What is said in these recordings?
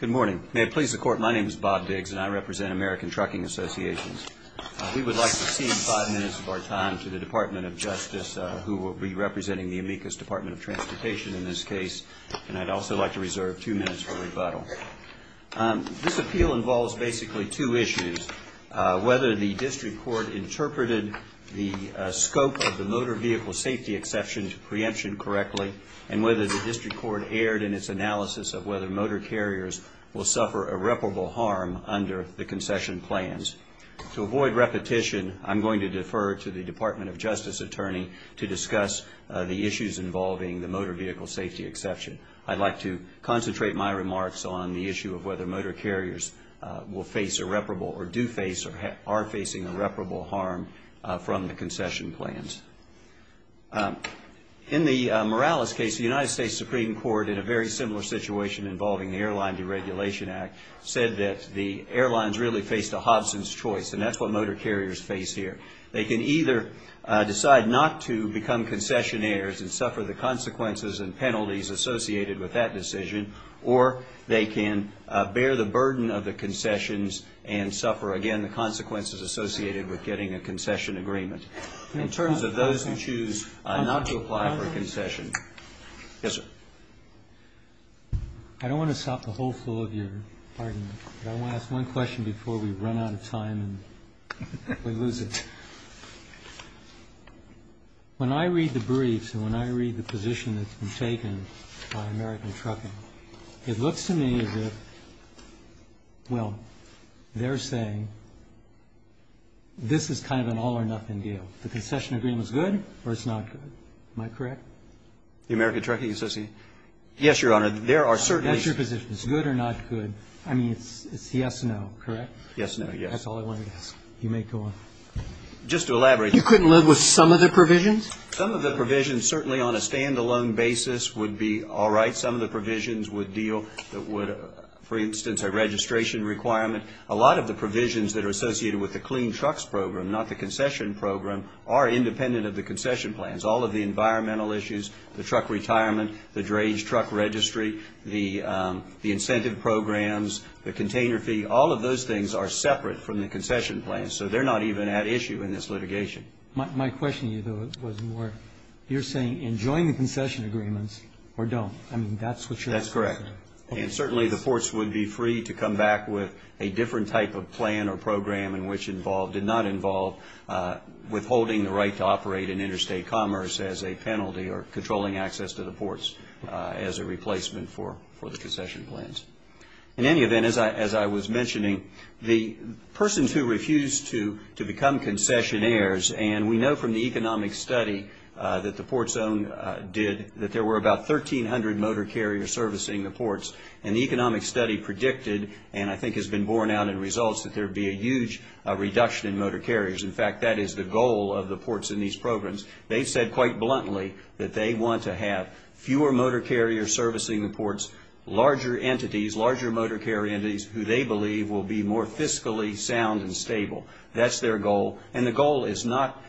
Good morning. May it please the Court, my name is Bob Biggs and I represent American Trucking Associations. We would like to cede five minutes of our time to the Department of Justice, who will be representing the amicus Department of Transportation in this case, and I'd also like to reserve two minutes for rebuttal. This appeal involves basically two issues. Whether the District Court interpreted the scope of the motor vehicle safety exception to preemption correctly and whether the District Court erred in its analysis of whether motor carriers will suffer irreparable harm under the concession plans. To avoid repetition, I'm going to defer to the Department of Justice Attorney to discuss the issues involving the motor vehicle safety exception. I'd like to concentrate my remarks on the issue of whether motor carriers will face irreparable or do face or are facing irreparable harm from the concession plans. In the Morales case, the United States Supreme Court in a very similar situation involving the Airline Deregulation Act said that the airlines really faced a Hobson's choice, and that's what motor carriers face here. They can either decide not to become concessionaires and suffer the consequences and penalties associated with that decision, or they can bear the burden of the concessions and suffer, again, the consequences associated with getting a concession agreement. In terms of those who choose not to apply for a concession Yes, sir. I don't want to stop the whole flow of your argument, but I want to ask one question before we run out of time and we lose it. When I read the briefs and when I read the position that's been taken by American Trucking, it looks to me as if, well, they're saying this is kind of an all or nothing deal. The concession agreement's good or it's not good. Am I correct? The American Trucking Association? Yes, Your Honor. There are certainly That's your position. It's good or not good. I mean, it's yes, no, correct? Yes, no, yes. That's all I wanted to ask. You may go on. Just to elaborate You couldn't live with some of the provisions? Some of the provisions, certainly on a stand-alone basis, would be all right. Some of the provisions would deal with, for instance, a registration requirement. A lot of the provisions that are associated with the clean trucks program, not the concession program, are independent of the concession plans. All of the environmental issues, the truck retirement, the drage truck registry, the incentive programs, the container fee, all of those things are separate from the concession plans. So they're not even at issue in this litigation. My question to you, though, was more you're saying enjoy the concession agreements or don't. I mean, that's what you're saying. That's correct. And certainly the ports would be free to come back with a different type of plan or program in which it did not involve withholding the right to operate in interstate commerce as a penalty or controlling access to the ports as a replacement for the concession plans. In any event, as I was mentioning, the persons who refused to become concessionaires, and we know from the economic study that the Port Zone did that there were about 1,300 motor carriers servicing the ports. And the economic study predicted, and I think has been borne out in results, that there would be a huge reduction in motor carriers. In fact, that is the goal of the ports in these programs. They've said quite bluntly that they want to have fewer motor carriers servicing the ports, larger entities, larger motor carrier entities who they believe will be more fiscally sound and stable. That's their goal. And the goal is not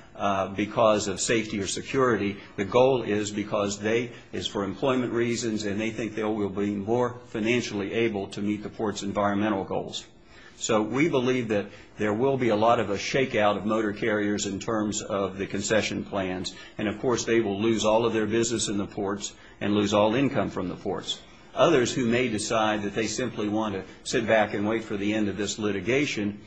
because of safety or security. The goal is because they, it's for employment reasons, and they think they will be more financially able to meet the ports' environmental goals. So we believe that there will be a lot of a shakeout of motor carriers in terms of the concession plans. And, of course, they will lose all of their business in the ports and lose all income from the ports. Others who may decide that they simply want to sit back and wait for the end of this litigation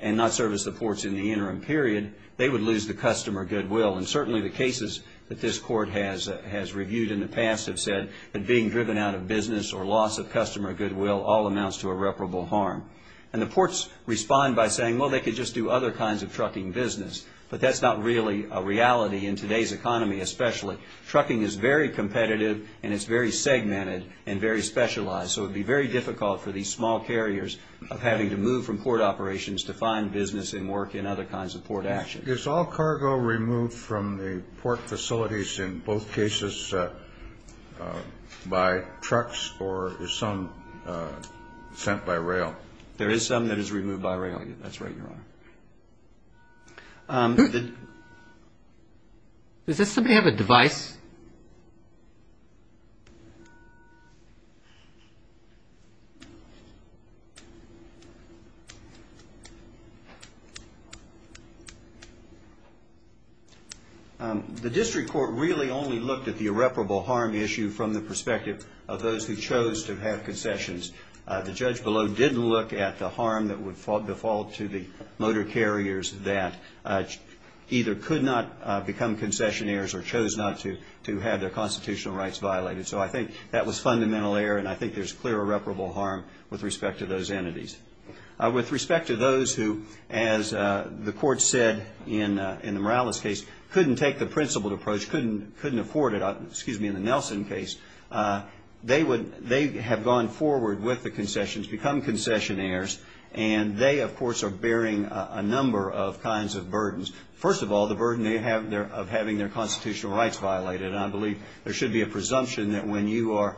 and not service the ports in the interim period, they would lose the customer goodwill. And certainly the cases that this court has reviewed in the past have said that being driven out of business or loss of customer goodwill all amounts to irreparable harm. And the ports respond by saying, well, they could just do other kinds of trucking business. But that's not really a reality in today's economy especially. Trucking is very competitive and it's very segmented and very specialized. So it would be very difficult for these small carriers of having to move from port operations to find business and work in other kinds of port action. Is all cargo removed from the port facilities in both cases by trucks or is some sent by rail? There is some that is removed by rail. That's right, Your Honor. Does this somebody have a device? The district court really only looked at the irreparable harm issue from the perspective of those who chose to have concessions. The judge below didn't look at the harm that would fall to the motor carriers that either could not become concessionaires or chose not to have their constitutional rights violated. So I think that was fundamental error and I think there's clear irreparable harm with respect to those entities. With respect to those who, as the court said in the Morales case, couldn't take the principled approach, couldn't afford it, excuse me, in the Nelson case, they have gone forward with the concessions, become concessionaires, and they, of course, are bearing a number of kinds of burdens. First of all, the burden of having their constitutional rights violated. I believe there should be a presumption that when you are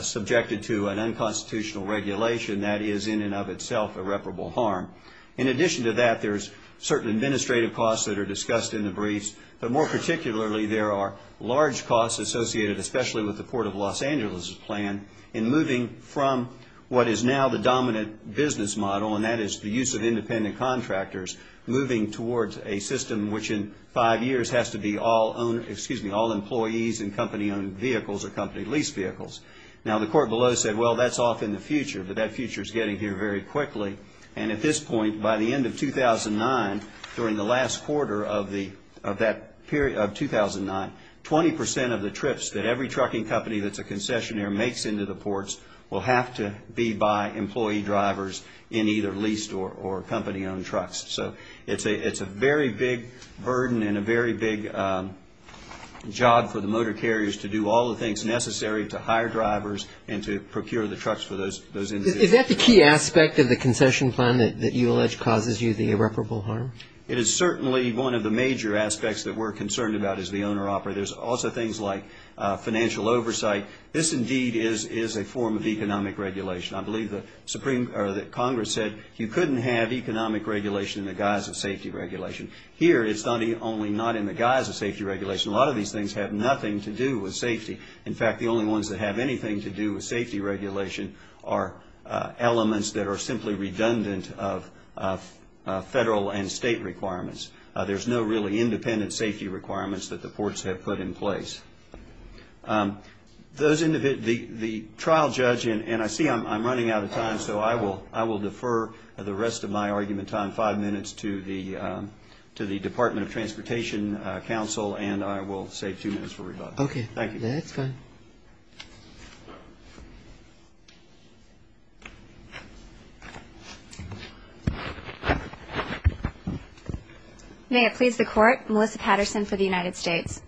subjected to an unconstitutional regulation, that is in and of itself irreparable harm. In addition to that, there's certain administrative costs that are discussed in the briefs, but more particularly there are large costs associated, especially with the Port of Los Angeles plan, in moving from what is now the dominant business model, and that is the use of independent contractors, moving towards a system which in five years has to be all employees in company-owned vehicles or company-leased vehicles. Now, the court below said, well, that's off in the future, but that future is getting here very quickly. And at this point, by the end of 2009, during the last quarter of that period of 2009, 20% of the trips that every trucking company that's a concessionaire makes into the ports will have to be by employee drivers in either leased or company-owned trucks. So it's a very big burden and a very big job for the motor carriers to do all the things necessary to hire drivers and to procure the trucks for those individuals. Is that the key aspect of the concession plan that you allege causes you the irreparable harm? It is certainly one of the major aspects that we're concerned about as the owner-operator. There's also things like financial oversight. This indeed is a form of economic regulation. I believe that Congress said you couldn't have economic regulation in the guise of safety regulation. Here it's only not in the guise of safety regulation. A lot of these things have nothing to do with safety. In fact, the only ones that have anything to do with safety regulation are elements that are simply redundant of federal and state requirements. There's no really independent safety requirements that the ports have put in place. The trial judge, and I see I'm running out of time, so I will defer the rest of my argument time, five minutes, to the Department of Transportation Counsel, and I will save two minutes for rebuttal. Okay, that's fine. May it please the Court, Melissa Patterson for the United States.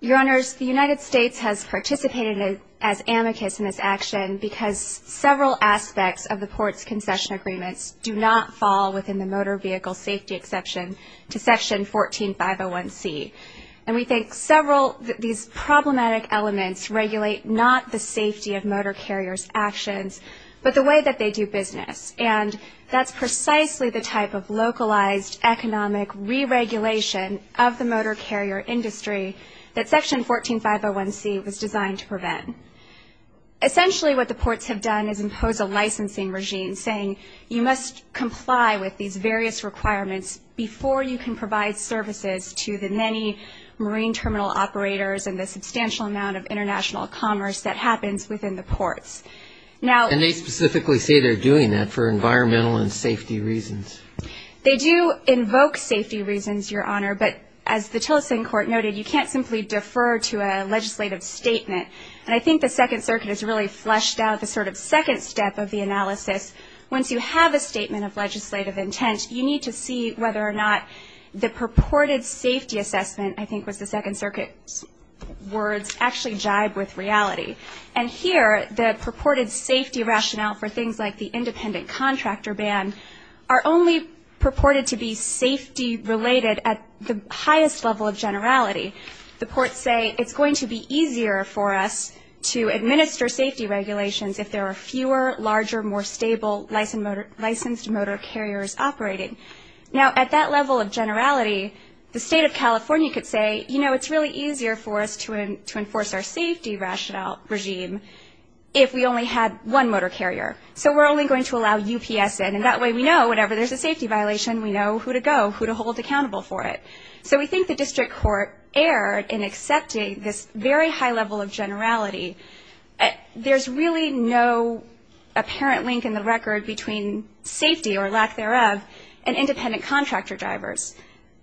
Your Honors, the United States has participated as amicus in this action because several aspects of the ports' concession agreements do not fall within the motor vehicle safety exception to Section 14501C. And we think several of these problematic elements regulate not the safety of motor carriers' actions, but the way that they do business. And that's precisely the type of localized economic re-regulation of the motor carrier industry that Section 14501C was designed to prevent. Essentially what the ports have done is impose a licensing regime saying you must comply with these various requirements before you can provide services to the many marine terminal operators and the substantial amount of international commerce that happens within the ports. And they specifically say they're doing that for environmental and safety reasons. They do invoke safety reasons, Your Honor, but as the Tillerson Court noted, you can't simply defer to a legislative statement. And I think the Second Circuit has really fleshed out the sort of second step of the analysis. Once you have a statement of legislative intent, you need to see whether or not the purported safety assessment, I think was the Second Circuit's words, actually jive with reality. And here the purported safety rationale for things like the independent contractor ban are only purported to be safety-related at the highest level of generality. The ports say it's going to be easier for us to administer safety regulations if there are fewer, larger, more stable licensed motor carriers operating. Now, at that level of generality, the State of California could say, you know, it's really easier for us to enforce our safety regime if we only had one motor carrier. So we're only going to allow UPS in, and that way we know whenever there's a safety violation, we know who to go, who to hold accountable for it. So we think the district court erred in accepting this very high level of generality. There's really no apparent link in the record between safety, or lack thereof, and independent contractor drivers.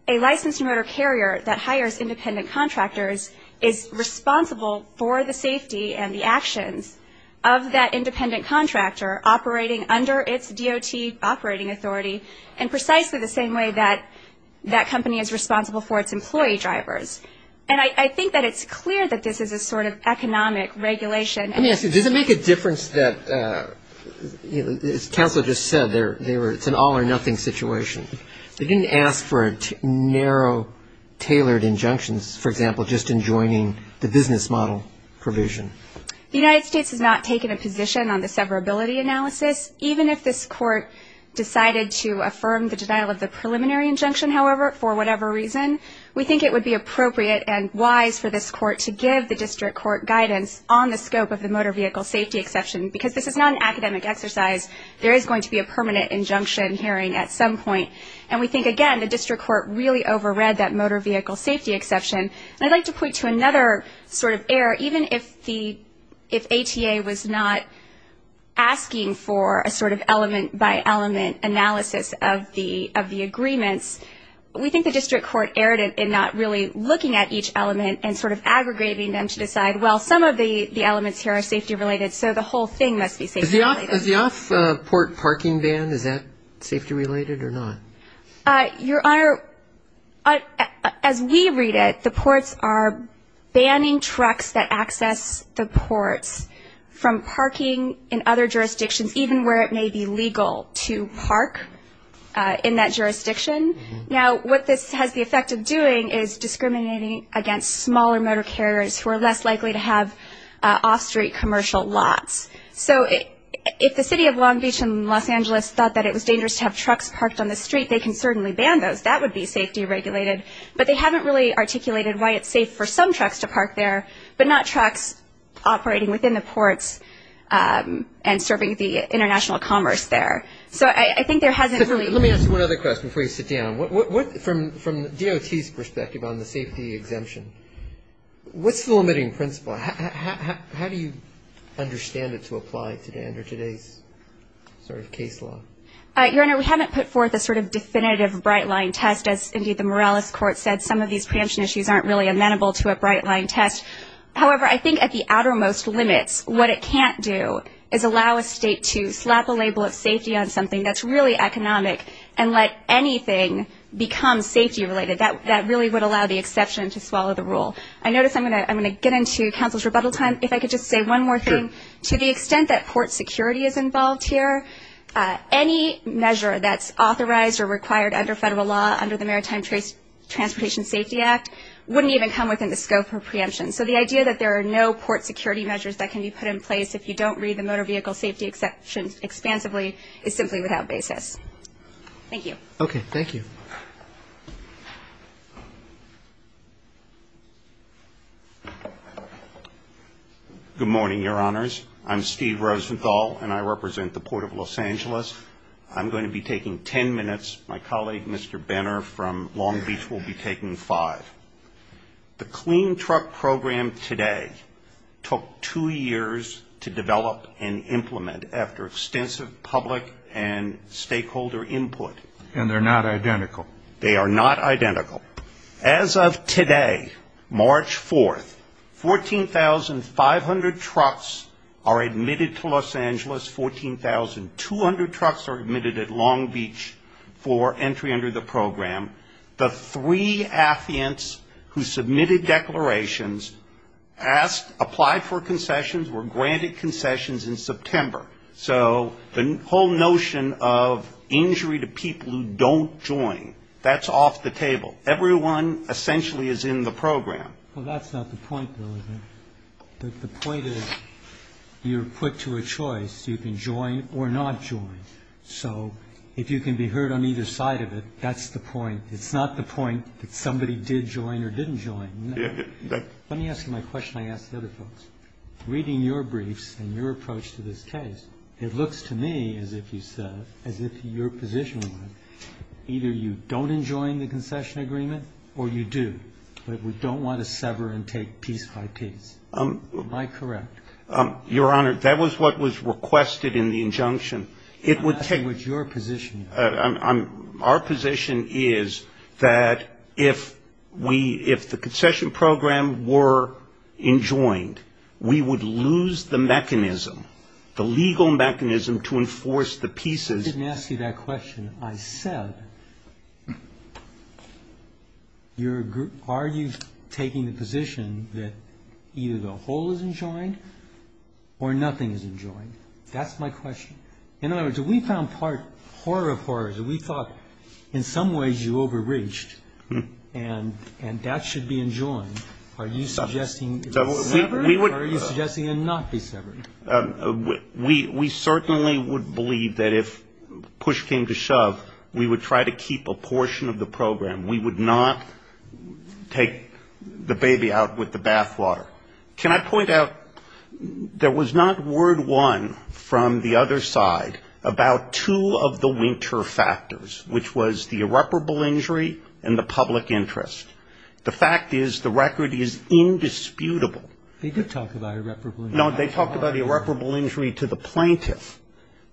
A licensed motor carrier that hires independent contractors is responsible for the safety and the actions of that independent contractor operating under its DOT operating authority in precisely the same way that that company is responsible for its employee drivers. And I think that it's clear that this is a sort of economic regulation. Does it make a difference that, as counsel just said, it's an all-or-nothing situation? They didn't ask for a narrow, tailored injunction, for example, just in joining the business model provision. The United States has not taken a position on the severability analysis. Even if this court decided to affirm the denial of the preliminary injunction, however, for whatever reason, we think it would be appropriate and wise for this court to give the district court guidance on the scope of the motor vehicle safety exception, because this is not an academic exercise. There is going to be a permanent injunction hearing at some point. And we think, again, the district court really overread that motor vehicle safety exception. And I'd like to point to another sort of error. Even if ATA was not asking for a sort of element-by-element analysis of the agreements, we think the district court erred in not really looking at each element and sort of aggregating them to decide, well, some of the elements here are safety-related, so the whole thing must be safety-related. Is the off-port parking ban, is that safety-related or not? Your Honor, as we read it, the ports are banning trucks that access the ports from parking in other jurisdictions, even where it may be legal to park in that jurisdiction. Now, what this has the effect of doing is discriminating against smaller motor carriers who are less likely to have off-street commercial lots. So if the city of Long Beach and Los Angeles thought that it was dangerous to have trucks parked on the street, they can certainly ban those. That would be safety-regulated. But they haven't really articulated why it's safe for some trucks to park there, but not trucks operating within the ports and serving the international commerce there. So I think there hasn't really been. Let me ask you one other question before you sit down. From DOT's perspective on the safety exemption, what's the limiting principle? How do you understand it to apply under today's sort of case law? Your Honor, we haven't put forth a sort of definitive bright-line test. As, indeed, the Morales Court said, some of these preemption issues aren't really amenable to a bright-line test. However, I think at the outermost limits, what it can't do is allow a state to slap a label of safety on something that's really economic and let anything become safety-related. That really would allow the exception to swallow the rule. I notice I'm going to get into counsel's rebuttal time. If I could just say one more thing. Sure. To the extent that port security is involved here, any measure that's authorized or required under federal law under the Maritime Transportation Safety Act wouldn't even come within the scope of preemption. So the idea that there are no port security measures that can be put in place if you don't read the motor vehicle safety exceptions expansively is simply without basis. Thank you. Okay. Thank you. Good morning, Your Honors. I'm Steve Rosenthal, and I represent the Port of Los Angeles. I'm going to be taking ten minutes. My colleague, Mr. Benner from Long Beach, will be taking five. The clean truck program today took two years to develop and implement after extensive public and stakeholder input. And they're not identical. They are not identical. As of today, March 4th, 14,500 trucks are admitted to Los Angeles. 14,200 trucks are admitted at Long Beach for entry under the program. The three affiants who submitted declarations asked, applied for concessions, were granted concessions in September. So the whole notion of injury to people who don't join, that's off the table. Everyone essentially is in the program. Well, that's not the point, though, is it? The point is you're put to a choice. You can join or not join. So if you can be heard on either side of it, that's the point. It's not the point that somebody did join or didn't join. Let me ask you my question I ask the other folks. Reading your briefs and your approach to this case, it looks to me, as if you said, either you don't enjoin the concession agreement or you do, but we don't want to sever and take piece by piece. Am I correct? Your Honor, that was what was requested in the injunction. I'm asking what your position is. Our position is that if the concession program were enjoined, we would lose the mechanism, the legal mechanism to enforce the pieces. I didn't ask you that question. I said are you taking the position that either the whole is enjoined or nothing is enjoined? That's my question. In other words, if we found part, horror of horrors, if we thought in some ways you overreached and that should be enjoined, are you suggesting it's severed or are you suggesting it not be severed? We certainly would believe that if push came to shove, we would try to keep a portion of the program. We would not take the baby out with the bathwater. Can I point out, there was not word one from the other side about two of the winter factors, which was the irreparable injury and the public interest. The fact is the record is indisputable. They did talk about irreparable injury. No, they talked about irreparable injury to the plaintiff.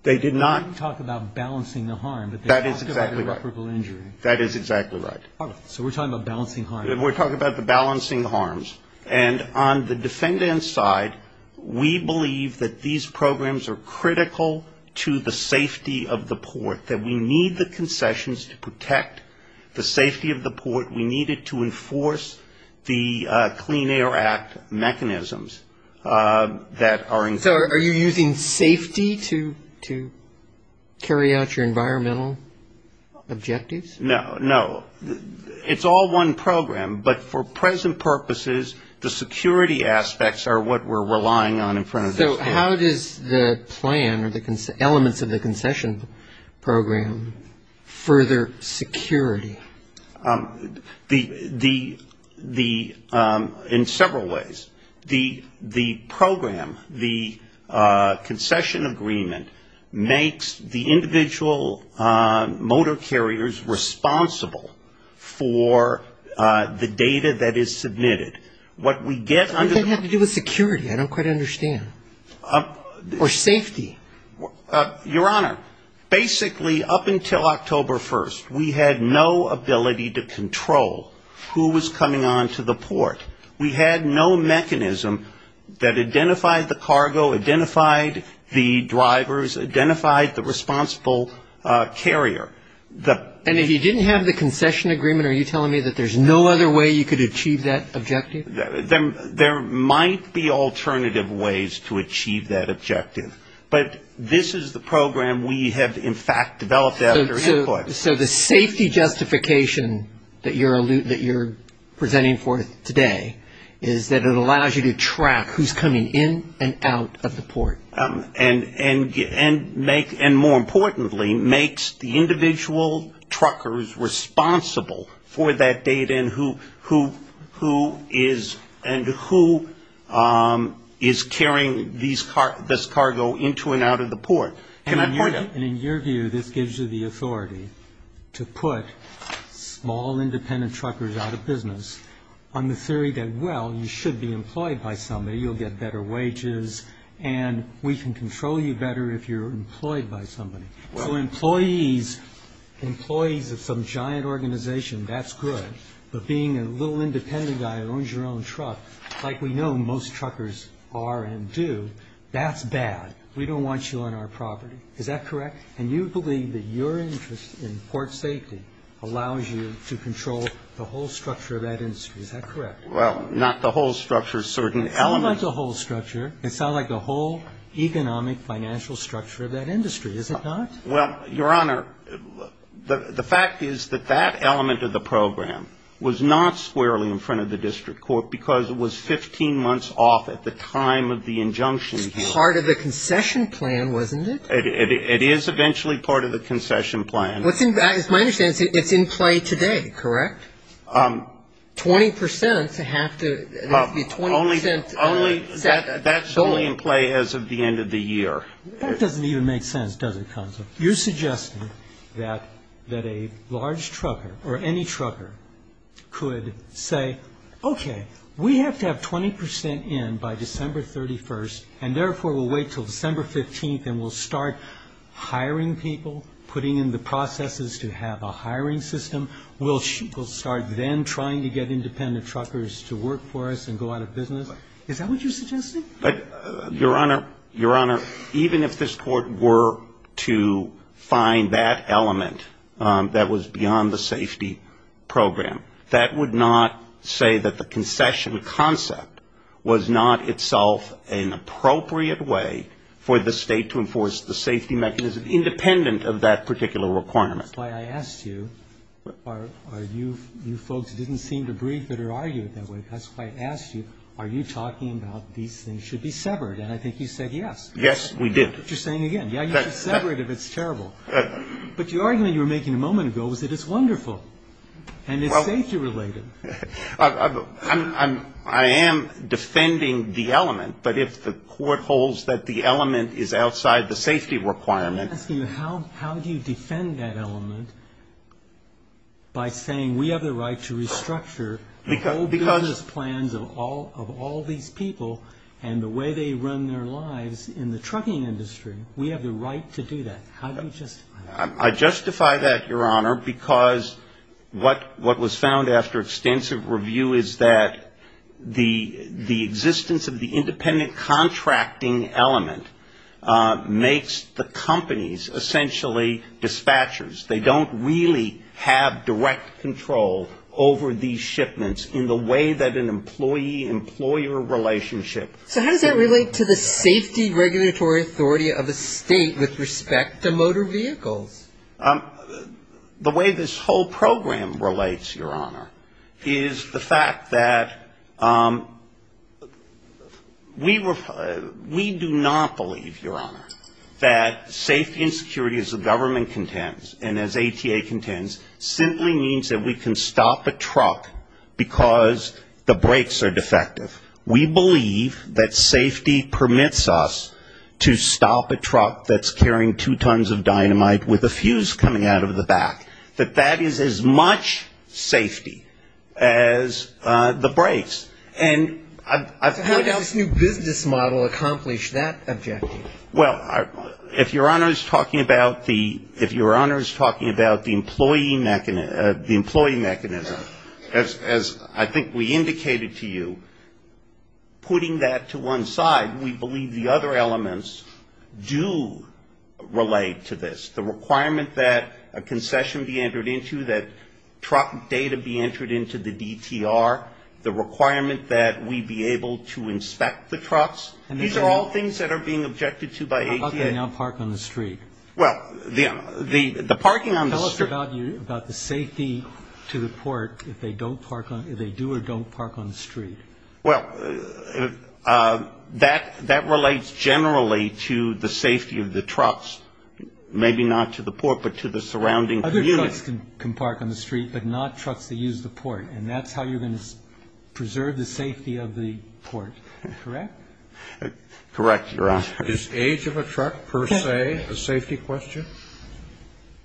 They did not. They didn't talk about balancing the harm. That is exactly right. But they talked about irreparable injury. That is exactly right. So we're talking about balancing harm. We're talking about the balancing harms. And on the defendant's side, we believe that these programs are critical to the safety of the port, that we need the concessions to protect the safety of the port. We need it to enforce the Clean Air Act mechanisms that are included. So are you using safety to carry out your environmental objectives? No. No. It's all one program. But for present purposes, the security aspects are what we're relying on in front of this court. So how does the plan or the elements of the concession program further security? The, in several ways. The program, the concession agreement makes the individual motor carriers responsible for the data that is submitted. What we get under the Or safety. Your Honor, basically up until October 1st, we had no ability to control who was coming onto the port. We had no mechanism that identified the cargo, identified the drivers, identified the responsible carrier. And if you didn't have the concession agreement, are you telling me that there's no other way you could achieve that objective? There might be alternative ways to achieve that objective. But this is the program we have, in fact, developed after Hitler. So the safety justification that you're presenting for today is that it allows you to track who's coming in and out of the port. And more importantly, makes the individual truckers responsible for that data and who is carrying this cargo into and out of the port. And in your view, this gives you the authority to put small independent truckers out of business on the theory that, well, you should be employed by somebody, you'll get better wages, and we can control you better if you're employed by somebody. For employees of some giant organization, that's good. But being a little independent guy who owns your own truck, like we know most truckers are and do, that's bad. We don't want you on our property. Is that correct? And you believe that your interest in port safety allows you to control the whole structure of that industry. Is that correct? Well, not the whole structure, certain elements. It's not like the whole structure. It's not like the whole economic financial structure of that industry, is it not? Well, Your Honor, the fact is that that element of the program was not squarely in front of the district court, because it was 15 months off at the time of the injunction here. It's part of the concession plan, wasn't it? It is eventually part of the concession plan. As my understanding, it's in play today, correct? Twenty percent have to be 20 percent. Only that's only in play as of the end of the year. That doesn't even make sense, does it, Counselor? You're suggesting that a large trucker or any trucker could say, okay, we have to have 20 percent in by December 31st, and therefore we'll wait until December 15th and we'll start hiring people, putting in the processes to have a hiring system. We'll start then trying to get independent truckers to work for us and go out of business? Is that what you're suggesting? Your Honor, Your Honor, even if this Court were to find that element that was beyond the safety program, that would not say that the concession concept was not itself an appropriate way for the State to enforce the safety mechanism independent of that particular requirement. That's why I asked you. You folks didn't seem to breathe it or argue it that way. That's why I asked you. Are you talking about these things should be severed? And I think you said yes. Yes, we did. You're saying again, yeah, you should sever it if it's terrible. But your argument you were making a moment ago was that it's wonderful and it's safety related. I am defending the element, but if the Court holds that the element is outside the safety requirement. I'm asking you, how do you defend that element by saying we have the right to restructure all business plans of all these people and the way they run their lives in the trucking industry? We have the right to do that. How do you justify that? I justify that, Your Honor, because what was found after extensive review is that the existence of the independent contracting element makes the companies essentially dispatchers. They don't really have direct control over these shipments in the way that an employee-employer relationship. So how does that relate to the safety regulatory authority of the State with respect to motor vehicles? The way this whole program relates, Your Honor, is the fact that we do not believe, Your Honor, that safety and security as the government contends and as ATA contends simply means that we can stop a truck because the brakes are defective. We believe that safety permits us to stop a truck that's carrying two tons of dynamite with a fuse coming out of the back, that that is as much safety as the brakes. How does this new business model accomplish that objective? Well, if Your Honor is talking about the employee mechanism, as I think we indicated to you, putting that to one side, we believe the other elements do relate to this. The requirement that a concession be entered into, that truck data be entered into the DTR, the requirement that we be able to inspect the trucks, these are all things that are being objected to by ATA. How about they now park on the street? Well, the parking on the street. I'm sorry, Your Honor. How about the safety to the port if they do or don't park on the street? Well, that relates generally to the safety of the trucks, maybe not to the port, but to the surrounding community. Other trucks can park on the street, but not trucks that use the port. And that's how you're going to preserve the safety of the port, correct? Correct, Your Honor. Is age of a truck, per se, a safety question?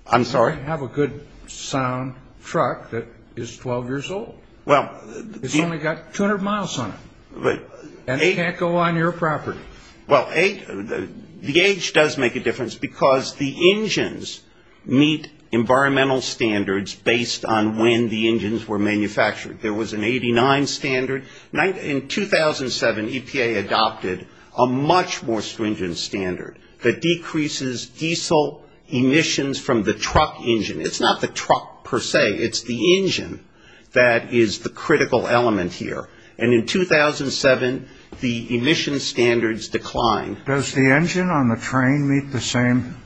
I'm sorry? I have a good sound truck that is 12 years old. It's only got 200 miles on it. And it can't go on your property. Well, the age does make a difference because the engines meet environmental standards based on when the engines were manufactured. There was an 89 standard. In 2007, EPA adopted a much more stringent standard that decreases diesel emissions from the truck engine. It's not the truck, per se. It's the engine that is the critical element here. And in 2007, the emission standards declined. Does the engine on the train meet the same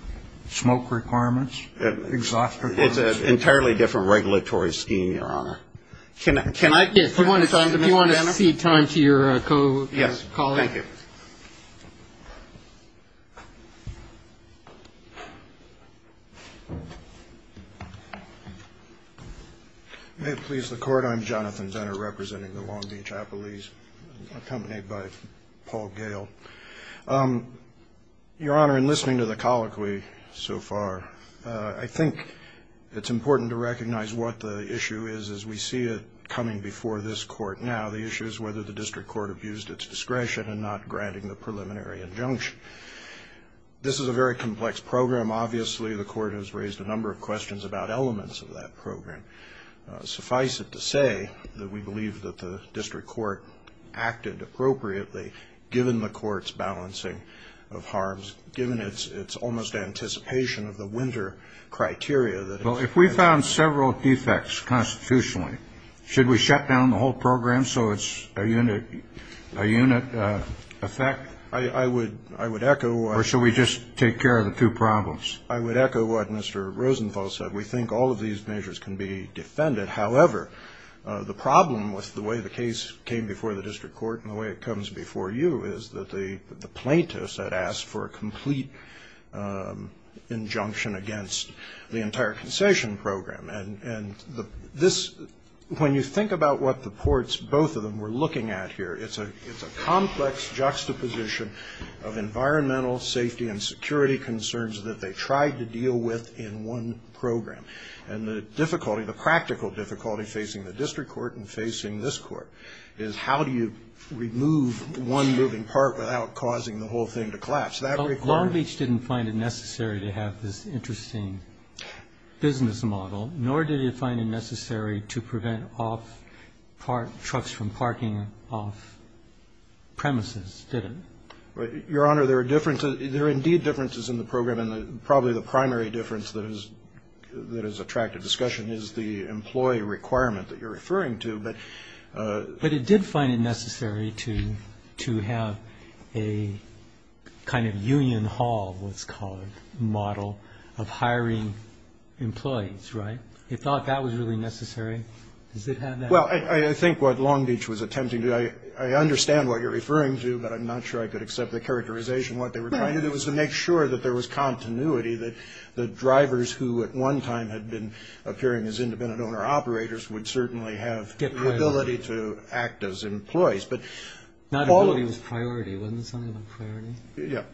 smoke requirements, exhaust requirements? It's an entirely different regulatory scheme, Your Honor. If you want to cede time to your co-colleague. Yes, thank you. May it please the Court, I'm Jonathan Zenner, representing the Long Beach Appalachians, accompanied by Paul Gale. Your Honor, in listening to the colloquy so far, I think it's important to recognize what the issue is as we see it coming before this Court now. The issue is whether the district court abused its discretion in not granting the preliminary injunction. This is a very complex program. Obviously, the Court has raised a number of questions about elements of that program. Suffice it to say that we believe that the district court acted appropriately, given the Court's balancing of harms, given its almost anticipation of the winter criteria. Well, if we found several defects constitutionally, should we shut down the whole program so it's a unit effect? I would echo. Or should we just take care of the two problems? I would echo what Mr. Rosenthal said. We think all of these measures can be defended. However, the problem with the way the case came before the district court and the way it comes before you is that the plaintiffs had asked for a complete injunction against the entire concession program. And when you think about what the courts, both of them, were looking at here, it's a complex juxtaposition of environmental safety and security concerns that they tried to deal with in one program. And the difficulty, the practical difficulty, facing the district court and facing this court is how do you remove one moving part without causing the whole thing to collapse? That requirement. Long Beach didn't find it necessary to have this interesting business model, nor did it find it necessary to prevent trucks from parking off premises, did it? Your Honor, there are differences. There are differences in the program, and probably the primary difference that has attracted discussion is the employee requirement that you're referring to. But it did find it necessary to have a kind of union hall, what it's called, model of hiring employees, right? It thought that was really necessary. Does it have that? Well, I think what Long Beach was attempting to do, I understand what you're referring to, but I'm not sure I could accept the characterization of what they were trying to do, was to make sure that there was continuity, that the drivers who at one time had been appearing as independent owner-operators would certainly have the ability to act as employees. But all of them... Not ability, it was priority. Wasn't it something about priority? Yes.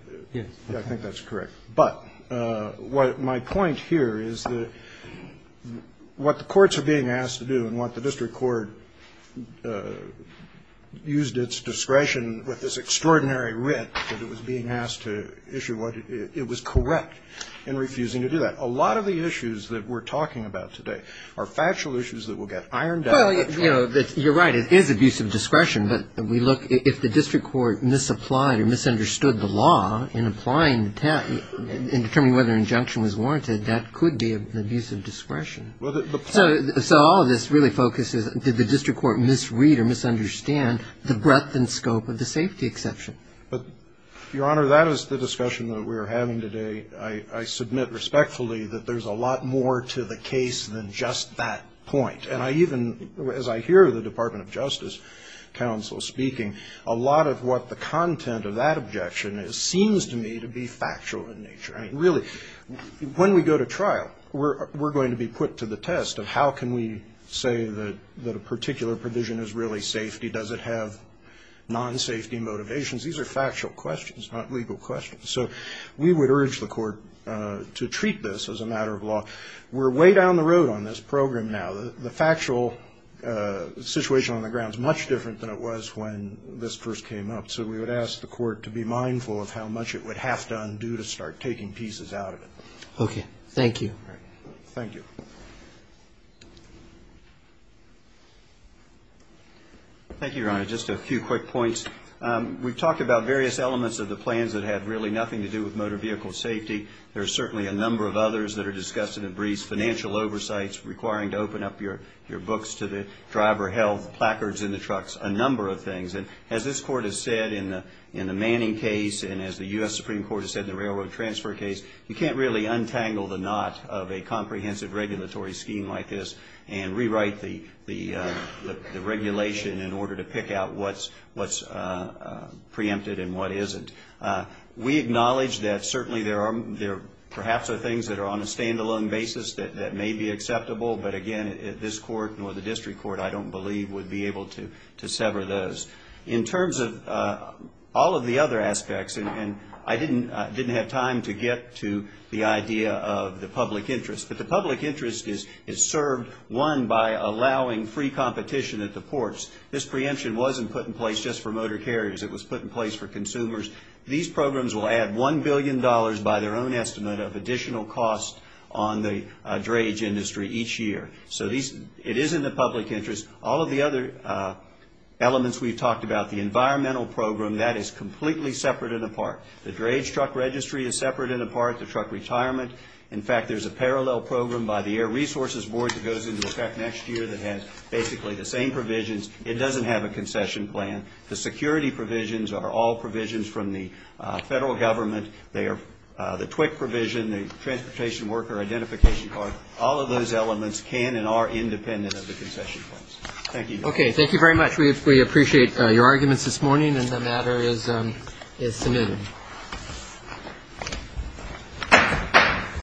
I think that's correct. But my point here is that what the courts are being asked to do and what the district court used its discretion with this extraordinary writ that it was being asked to issue, it was correct in refusing to do that. A lot of the issues that we're talking about today are factual issues that will get ironed out. Well, you know, you're right. It is abusive discretion. But we look, if the district court misapplied or misunderstood the law in applying, in determining whether an injunction was warranted, that could be abusive discretion. So all of this really focuses, did the district court misread or misunderstand the breadth and scope of the safety exception? Your Honor, that is the discussion that we're having today. I submit respectfully that there's a lot more to the case than just that point. And I even, as I hear the Department of Justice counsel speaking, a lot of what the content of that objection is seems to me to be factual in nature. I mean, really, when we go to trial, we're going to be put to the test of how can we say that a particular provision is really safety? Does it have non-safety motivations? These are factual questions, not legal questions. So we would urge the court to treat this as a matter of law. We're way down the road on this program now. The factual situation on the ground is much different than it was when this first came up. So we would ask the court to be mindful of how much it would have to undo to start taking pieces out of it. Okay. Thank you. Thank you. Thank you, Your Honor. Just a few quick points. We've talked about various elements of the plans that had really nothing to do with motor vehicle safety. There are certainly a number of others that are discussed in the briefs, financial oversights requiring to open up your books to the driver, health, placards in the trucks, a number of things. And as this court has said in the Manning case and as the U.S. Supreme Court has said in the railroad transfer case, you can't really untangle the knot of a comprehensive regulatory scheme like this and rewrite the regulation in order to pick out what's preempted and what isn't. We acknowledge that certainly there perhaps are things that are on a standalone basis that may be acceptable, but again, this court nor the district court, I don't believe, would be able to sever those. In terms of all of the other aspects, and I didn't have time to get to the idea of the public interest, but the public interest is served, one, by allowing free competition at the ports. This preemption wasn't put in place just for motor carriers. It was put in place for consumers. These programs will add $1 billion by their own estimate of additional cost on the drage industry each year. So it is in the public interest. All of the other elements we've talked about, the environmental program, that is completely separate and apart. The drage truck registry is separate and apart, the truck retirement. In fact, there's a parallel program by the Air Resources Board that goes into effect next year that has basically the same provisions. It doesn't have a concession plan. The security provisions are all provisions from the federal government. The TWIC provision, the Transportation Worker Identification Card, all of those elements can and are independent of the concession plans. Thank you. Okay. Thank you very much. We appreciate your arguments this morning, and the matter is submitted.